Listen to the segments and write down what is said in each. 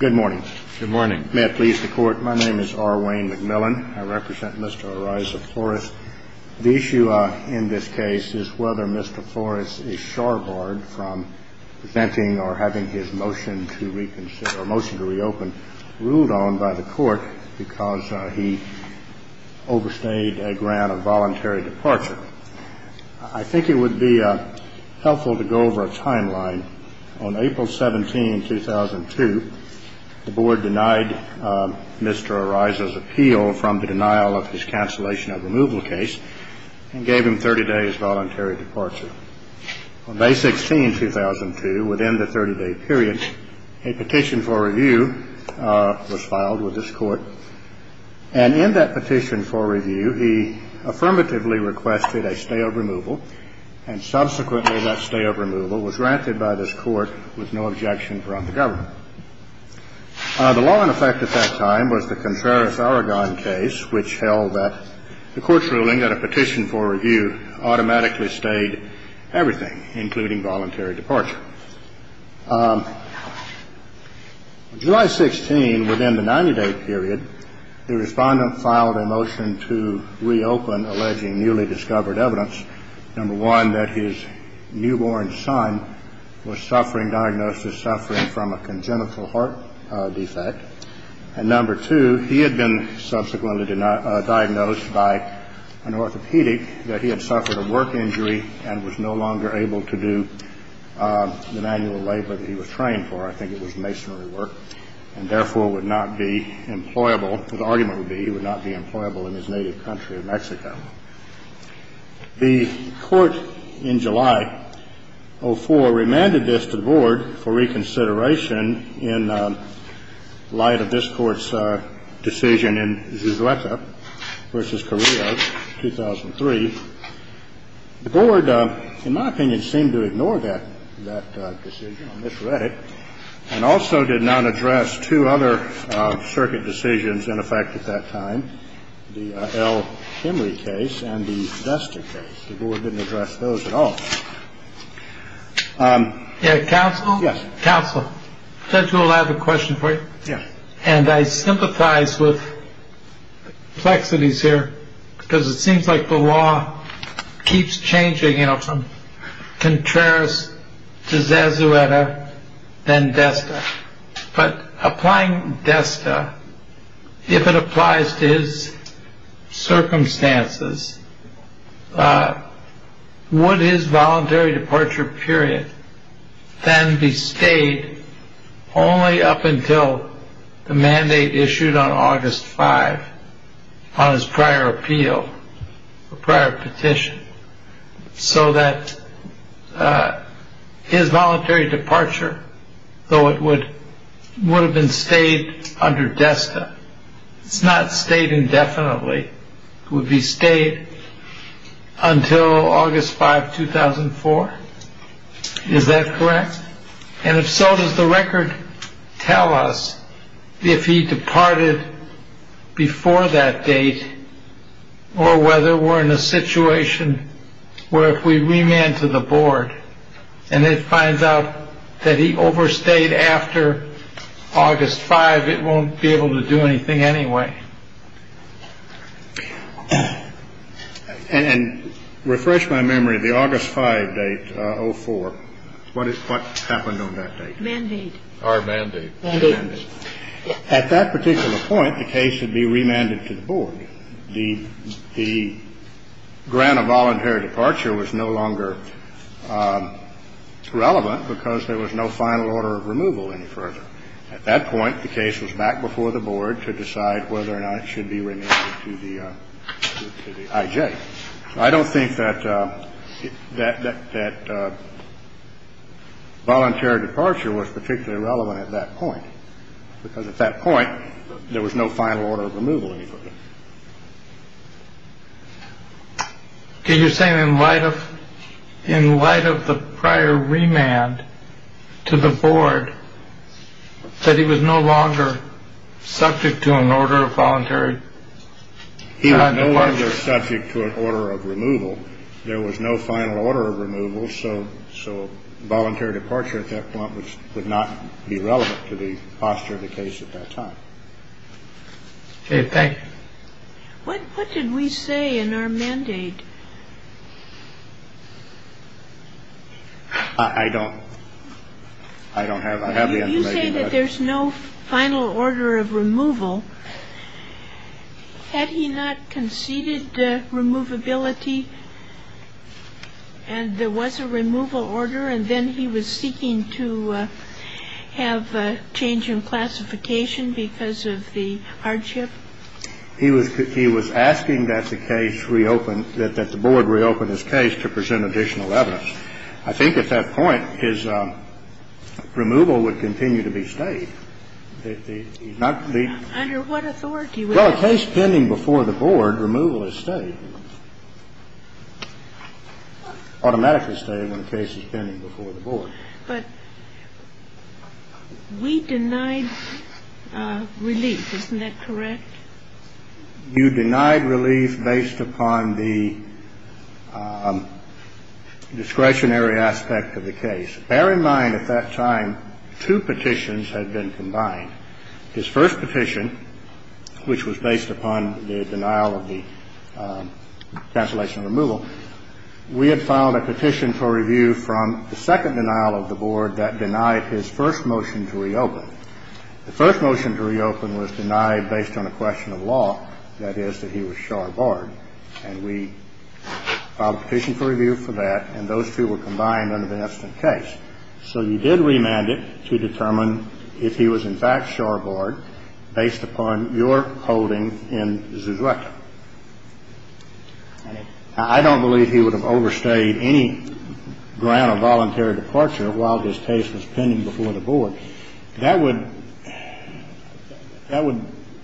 Good morning. Good morning. May it please the court. My name is R. Wayne McMillan. I represent Mr. Araiza Flores. The issue in this case is whether Mr. Flores is shoreboard from presenting or having his motion to reconsider or motion to reopen ruled on by the court because he overstayed a grant of voluntary departure. I think it would be helpful to go over a timeline. On April 17, 2002, the board denied Mr. Araiza's appeal from the denial of his cancellation of removal case and gave him 30 days voluntary departure. On May 16, 2002, within the 30 day period, a petition for review was filed with this court. And in that petition for review, he affirmatively requested a stay of removal. And subsequently, that stay of removal was granted by this court with no objection from the government. The law in effect at that time was the Contreras-Aragon case, which held that the court's ruling that a petition for review automatically stayed everything, including voluntary departure. On July 16, within the 90 day period, the respondent filed a motion to reopen alleging newly discovered evidence. Number one, that his newborn son was suffering diagnosis, suffering from a congenital heart defect. And number two, he had been subsequently diagnosed by an orthopedic that he had suffered a work injury and was no longer able to do an annual labor that he was trained for. I think it was masonry work and, therefore, would not be employable. The argument would be he would not be employable in his native country of Mexico. The court in July of 2004 remanded this to the board for reconsideration in light of this court's decision in Zuzueca v. Carrillo, 2003. The board, in my opinion, seemed to ignore that decision on this record and also did not address two other circuit decisions in effect at that time. The L. Henry case and the Desta case. The board didn't address those at all. Yeah. Counsel? Yes. Counsel. Judge, I have a question for you. Yeah. And I sympathize with the complexities here because it seems like the law keeps changing, you know, from Contreras to Zuzueca, then Desta. But applying Desta, if it applies to his circumstances, would his voluntary departure period then be stayed only up until the mandate issued on August 5 on his prior appeal, prior petition, so that his voluntary departure, though it would have been stayed under Desta. It's not stayed indefinitely. It would be stayed until August 5, 2004. Is that correct? Yes. And if so, does the record tell us if he departed before that date or whether we're in a situation where if we remand to the board and it finds out that he overstayed after August 5, it won't be able to do anything anyway. And refresh my memory, the August 5 date, 04, what happened on that date? Mandate. Or mandate. Mandate. At that particular point, the case would be remanded to the board. The grant of voluntary departure was no longer relevant because there was no final order of removal any further. At that point, the case was back before the board to decide whether or not it should be remanded to the IJ. I don't think that voluntary departure was particularly relevant at that point because at that point there was no final order of removal any further. Can you say in light of in light of the prior remand to the board that he was no longer subject to an order of voluntary? He was no longer subject to an order of removal. There was no final order of removal. So so voluntary departure at that point would not be relevant to the posture of the case at that time. In fact, what did we say in our mandate? I don't I don't have I have the idea that there's no final order of removal. Had he not conceded removability and there was a removal order and then he was seeking to have a change in classification because of the hardship? He was he was asking that the case reopened that the board reopened his case to present additional evidence. I think at that point his removal would continue to be stayed. Under what authority? Well, a case pending before the board, removal is stayed, automatically stayed when a case is pending before the board. But we denied relief. Isn't that correct? You denied relief based upon the discretionary aspect of the case. Bear in mind, at that time, two petitions had been combined. His first petition, which was based upon the denial of the cancellation of removal. We had filed a petition for review from the second denial of the board that denied his first motion to reopen. The first motion to reopen was denied based on a question of law, that is, that he was shore board. And we filed a petition for review for that. And those two were combined under the instant case. So you did remand it to determine if he was in fact shore board based upon your holding in Zuzueka. I don't believe he would have overstayed any grant or voluntary departure while his case was pending before the board. That would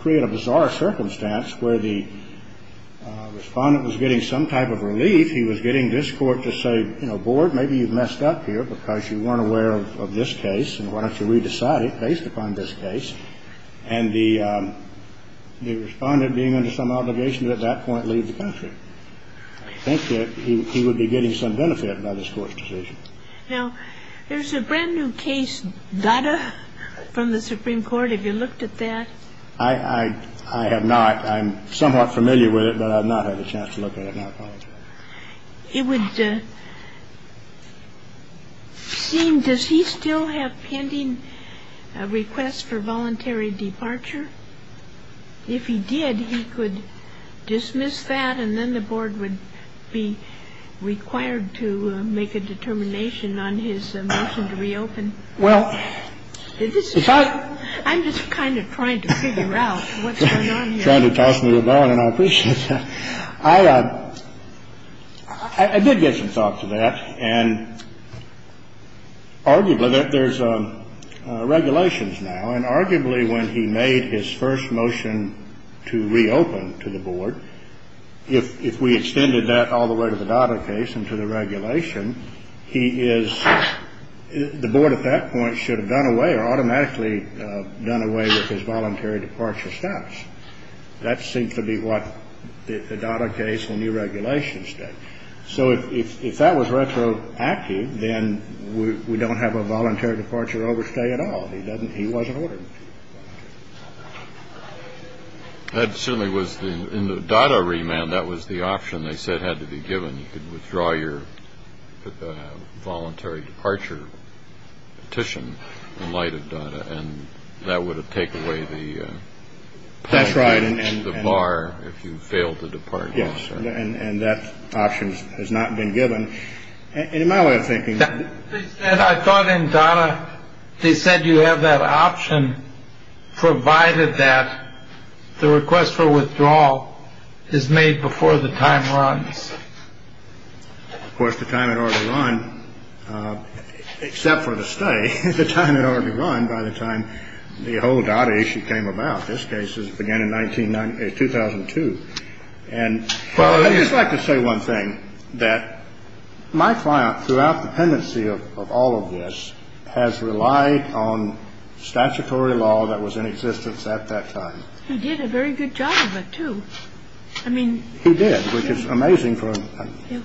create a bizarre circumstance where the Respondent was getting some type of relief. He was getting this Court to say, you know, board, maybe you've messed up here because you weren't aware of this case, and why don't you re-decide it based upon this case. And the Respondent, being under some obligation at that point, leaves the country. I think that he would be getting some benefit by this Court's decision. Now, there's a brand new case, Dada, from the Supreme Court. Have you looked at that? I have not. I'm somewhat familiar with it, but I've not had a chance to look at it. It would seem, does he still have pending requests for voluntary departure? If he did, he could dismiss that and then the board would be required to make a determination on his motion to reopen. Well, I'm just kind of trying to figure out what's going on here. Trying to toss me a bone and I appreciate that. I did get some thought to that, and arguably there's regulations now, and arguably when he made his first motion to reopen to the board, if we extended that all the way to the Dada case and to the regulation, he is, the board at that point should have done away or automatically done away with his voluntary departure status. That seems to be what the Dada case and the regulations did. So if that was retroactive, then we don't have a voluntary departure overstay at all. He doesn't, he wasn't ordered to. That certainly was, in the Dada remand, that was the option they said had to be given. You could withdraw your voluntary departure petition in light of Dada, and that would take away the. That's right. And the bar, if you fail to depart. And that option has not been given. And in my way of thinking, I thought in Dada, they said you have that option, provided that the request for withdrawal is made before the time runs. Of course, the time had already run, except for the stay, the time had already run by the time the whole Dada issue came about. This case began in 1990, 2002. And I'd just like to say one thing, that my client, throughout the pendency of all of this, has relied on statutory law that was in existence at that time. He did a very good job of it, too. I mean. He did, which is amazing for him. Yeah.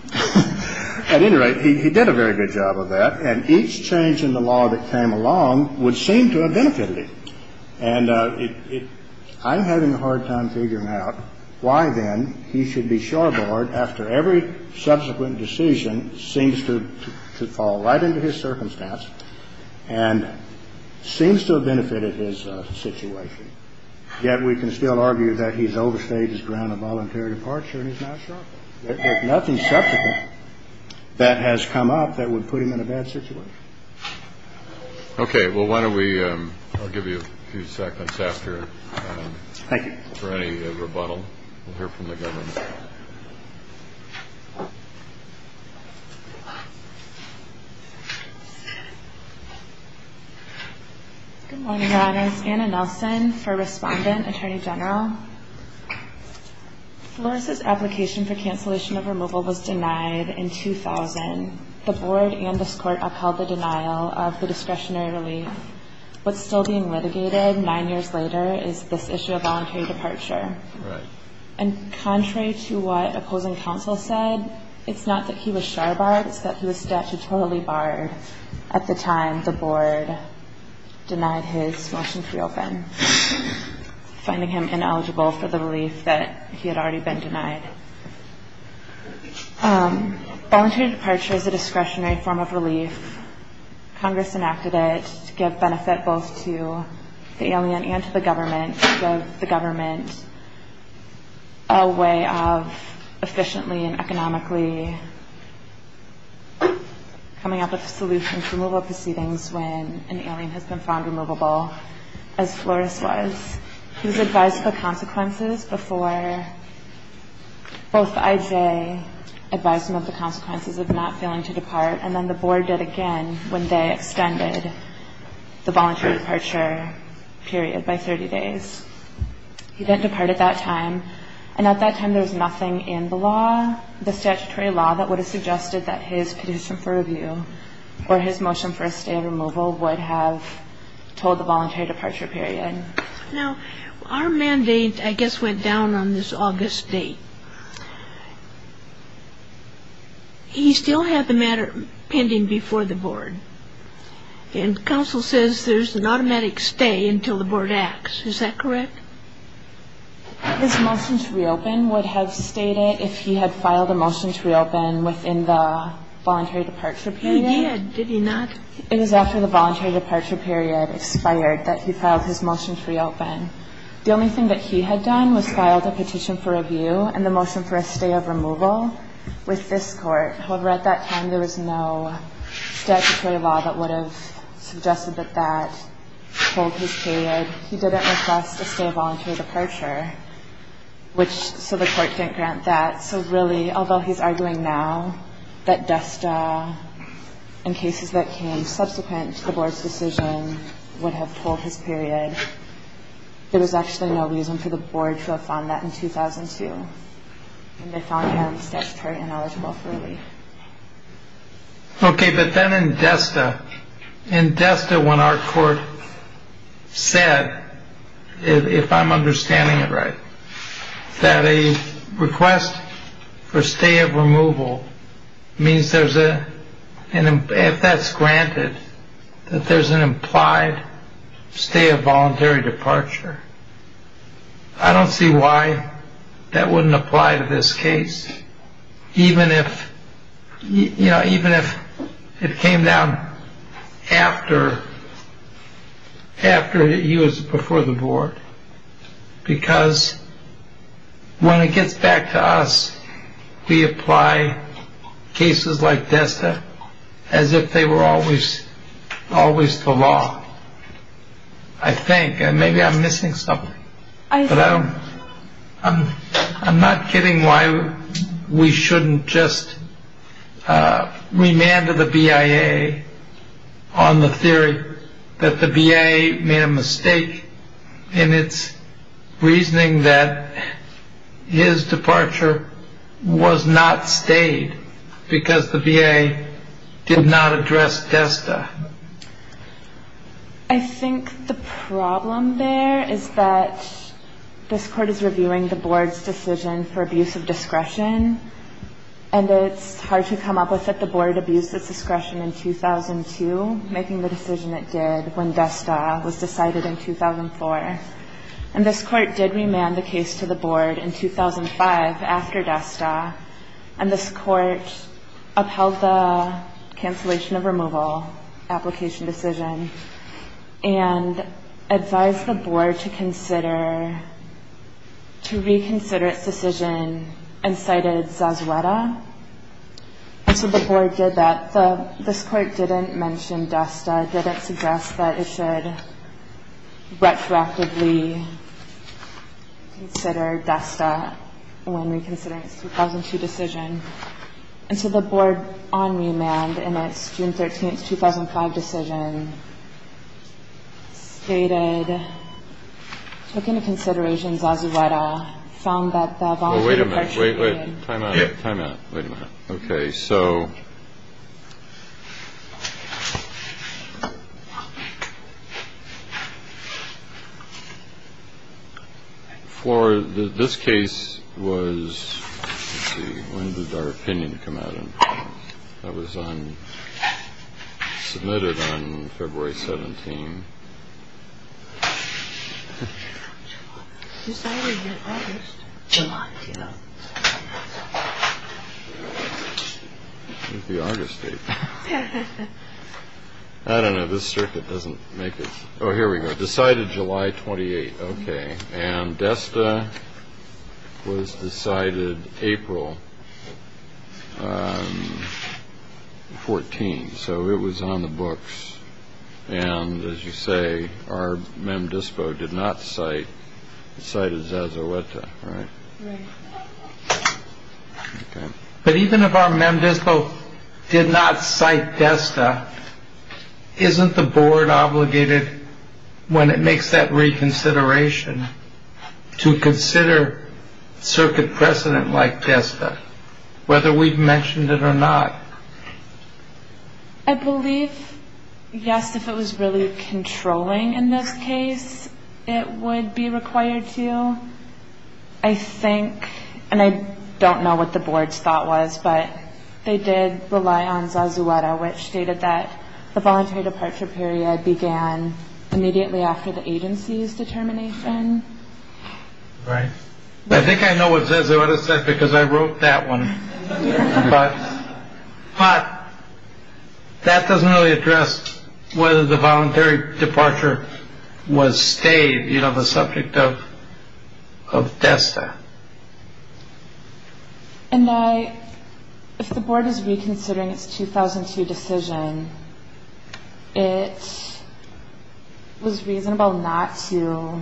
At any rate, he did a very good job of that. And each change in the law that came along would seem to have benefited him. And I'm having a hard time figuring out why, then, he should be shoreboard after every subsequent decision seems to fall right into his circumstance and seems to have benefited his situation. Yet we can still argue that he's overstayed his ground of voluntary departure and is now shoreboard. There's nothing subsequent that has come up that would put him in a bad situation. Okay. Well, why don't we give you a few seconds after. Thank you. For any rebuttal. We'll hear from the government. Good morning, Your Honors. Anna Nelson for Respondent, Attorney General. Flores' application for cancellation of removal was denied in 2000. The Board and this Court upheld the denial of the discretionary relief. What's still being litigated nine years later is this issue of voluntary departure. Right. And contrary to what opposing counsel said, it's not that he was shoreboard. It's that he was statutorily barred at the time the Board denied his motion to reopen, finding him ineligible for the relief that he had already been denied. Voluntary departure is a discretionary form of relief. Congress enacted it to give benefit both to the alien and to the government, a way of efficiently and economically coming up with a solution for removal proceedings when an alien has been found removable, as Flores was. He was advised of the consequences before both IJ advised him of the consequences of not failing to depart, and then the Board did again when they extended the voluntary departure period by 30 days. He didn't depart at that time, and at that time there was nothing in the law, the statutory law that would have suggested that his petition for review or his motion for a stay of removal would have told the voluntary departure period. Now, our mandate, I guess, went down on this August date. He still had the matter pending before the Board, and counsel says there's an automatic stay until the Board acts. Is that correct? His motion to reopen would have stated if he had filed a motion to reopen within the voluntary departure period. He did. Did he not? It was after the voluntary departure period expired that he filed his motion to reopen. The only thing that he had done was filed a petition for review and the motion for a stay of removal with this Court. However, at that time there was no statutory law that would have suggested that that told his period. He didn't request a stay of voluntary departure, so the Court didn't grant that. So really, although he's arguing now that DSTA and cases that came subsequent to the Board's decision would have told his period, there was actually no reason for the Board to have found that in 2002, and they found him statutorily ineligible for relief. Okay, but then in DSTA, in DSTA when our Court said, if I'm understanding it right, that a request for stay of removal means there's a, if that's granted, that there's an implied stay of voluntary departure. I don't see why that wouldn't apply to this case, even if, you know, even if it came down after he was before the Board because when it gets back to us, we apply cases like DSTA as if they were always the law. I think, and maybe I'm missing something, but I'm not getting why we shouldn't just remand the BIA on the theory that the BIA made a mistake in its reasoning that his departure was not stayed because the BIA did not address DSTA. I think the problem there is that this Court is reviewing the Board's decision for abuse of discretion, and it's hard to come up with that the Board abused its discretion in 2002, making the decision it did when DSTA was decided in 2004. And this Court did remand the case to the Board in 2005 after DSTA, and this Court upheld the cancellation of removal application decision and advised the Board to consider, to reconsider its decision and cited Zazueta. And so the Board did that. This Court didn't mention DSTA, didn't suggest that it should retroactively consider DSTA when reconsidering its 2002 decision. And so the Board, on remand, in its June 13, 2005 decision, stated, took into consideration Zazueta, found that the voluntary... Oh, wait a minute. Wait, wait. Time out. Time out. Wait a minute. Okay. So... For this case was... Let's see. When did our opinion come out? That was on... Submitted on February 17. July. Decided in August. July, yeah. It's the August date. I don't know. This circuit doesn't make it... Oh, here we go. Decided July 28. Okay. And DSTA was decided April 14. So it was on the books. And, as you say, our MEMDISPO did not cite... Cited Zazueta, right? Right. Okay. But even if our MEMDISPO did not cite DSTA, isn't the Board obligated, when it makes that reconsideration, to consider circuit precedent like DSTA, whether we've mentioned it or not? I believe, yes, if it was really controlling in this case, it would be required to. I think, and I don't know what the Board's thought was, but they did rely on Zazueta, which stated that the voluntary departure period began immediately after the agency's determination. Right. I think I know what Zazueta said because I wrote that one. But that doesn't really address whether the voluntary departure was stayed. You know, the subject of DSTA. And if the Board is reconsidering its 2002 decision, it was reasonable not to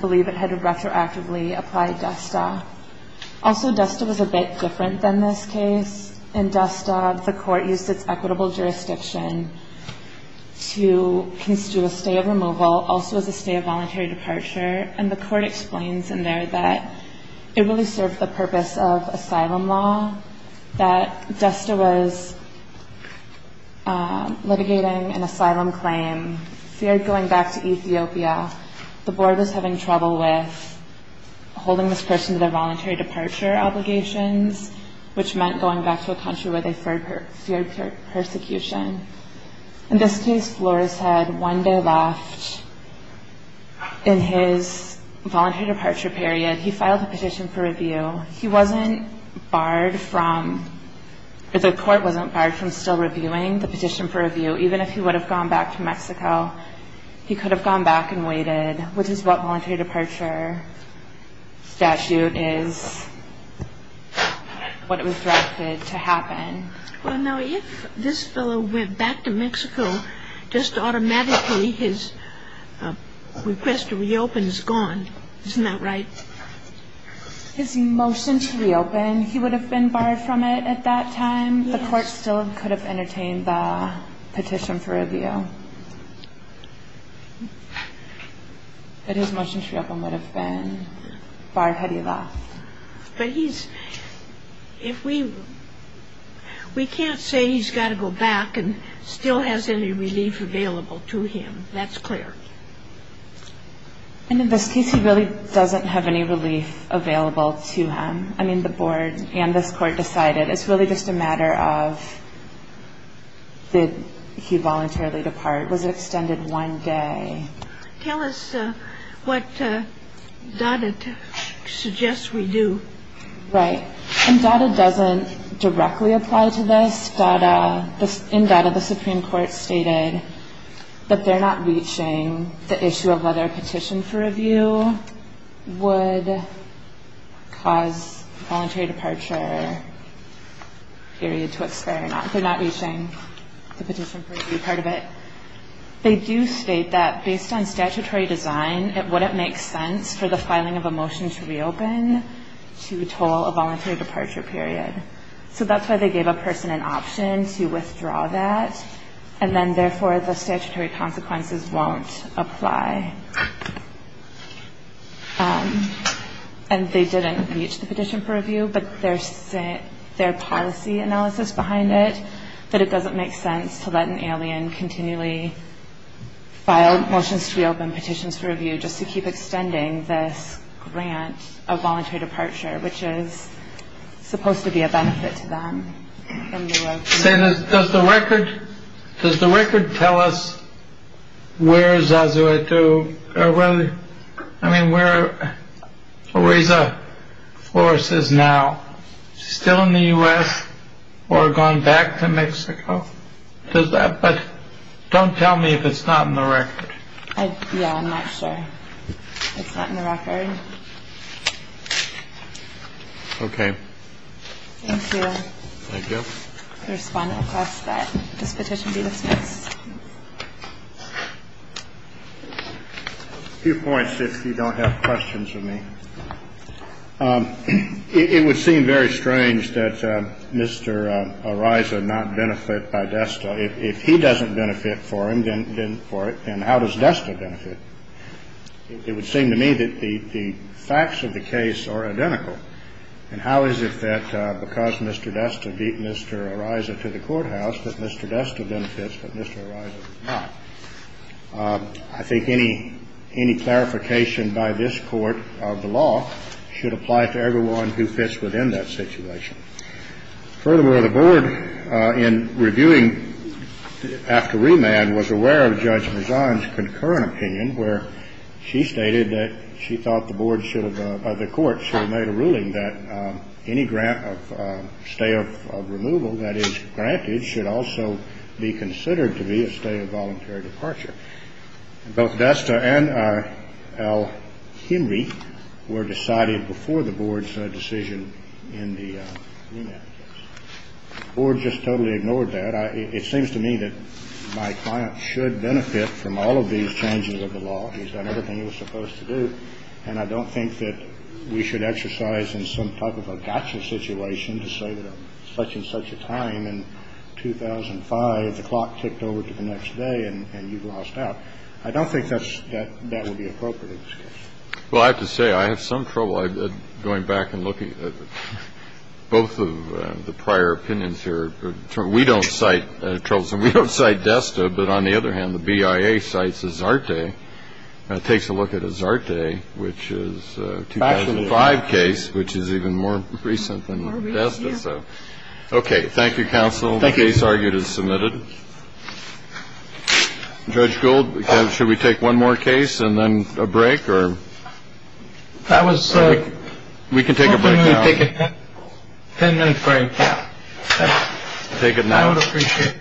believe it had retroactively applied DSTA. Also, DSTA was a bit different than this case. In DSTA, the Court used its equitable jurisdiction to construe a stay of removal, also as a stay of voluntary departure, and the Court explains in there that it really served the purpose of asylum law, that DSTA was litigating an asylum claim, feared going back to Ethiopia. The Board was having trouble with holding this person to their voluntary departure obligations, which meant going back to a country where they feared persecution. In this case, Flores had one day left in his voluntary departure period. He filed a petition for review. He wasn't barred from, or the Court wasn't barred from still reviewing the petition for review, even if he would have gone back to Mexico. He could have gone back and waited, which is what voluntary departure statute is, what it was directed to happen. Well, now, if this fellow went back to Mexico, just automatically his request to reopen is gone, isn't that right? His motion to reopen, he would have been barred from it at that time. The Court still could have entertained the petition for review. But his motion to reopen would have been barred had he left. But he's – if we – we can't say he's got to go back and still has any relief available to him. That's clear. And in this case, he really doesn't have any relief available to him. I mean, the Board and this Court decided it's really just a matter of did he voluntarily depart, was it extended one day. Tell us what DADA suggests we do. Right. And DADA doesn't directly apply to this. In DADA, the Supreme Court stated that they're not reaching the issue of whether a petition for review would cause voluntary departure period to expire. They're not reaching the petition for review part of it. They do state that based on statutory design, it wouldn't make sense for the filing of a motion to reopen to toll a voluntary departure period. So that's why they gave a person an option to withdraw that. And then, therefore, the statutory consequences won't apply. And they didn't reach the petition for review. But there's their policy analysis behind it, that it doesn't make sense to let an alien continually file motions to reopen petitions for review just to keep extending this grant of voluntary departure, which is supposed to be a benefit to them. Does the record, does the record tell us where Zazuitu, I mean, where Louisa Flores is now, still in the U.S. or gone back to Mexico? Does that, but don't tell me if it's not in the record. Yeah, I'm not sure. It's not in the record. Okay. Thank you. Thank you. The respondent requests that this petition be dismissed. A few points, if you don't have questions for me. It would seem very strange that Mr. Araiza not benefit by DESTA. If he doesn't benefit for him, then for it, then how does DESTA benefit? It would seem to me that the facts of the case are identical. And how is it that because Mr. DESTA beat Mr. Araiza to the courthouse that Mr. DESTA benefits but Mr. Araiza does not? I think any clarification by this Court of the law should apply to everyone who fits within that situation. Furthermore, the Board, in reviewing after remand, was aware of Judge Mezan's concurrent opinion where she stated that she thought the board should have, the court should have made a ruling that any grant of stay of removal that is granted should also be considered to be a stay of voluntary departure. Both DESTA and Al Henry were decided before the board's decision in the remand case. The board just totally ignored that. It seems to me that my client should benefit from all of these changes of the law. He's done everything he was supposed to do. And I don't think that we should exercise in some type of a gotcha situation to say that at such and such a time in 2005, the clock ticked over to the next day and you've lost out. I don't think that that would be appropriate in this case. Well, I have to say I have some trouble going back and looking at both of the prior opinions here. We don't cite Charles and we don't cite DESTA. But on the other hand, the BIA cites is our day. It takes a look at his art day, which is five case, which is even more recent than that. OK. Thank you, counsel. Thank you. It is submitted. Judge Gould, should we take one more case and then a break or. That was. We can take a break. Take a 10 minute break. Take it. I would appreciate.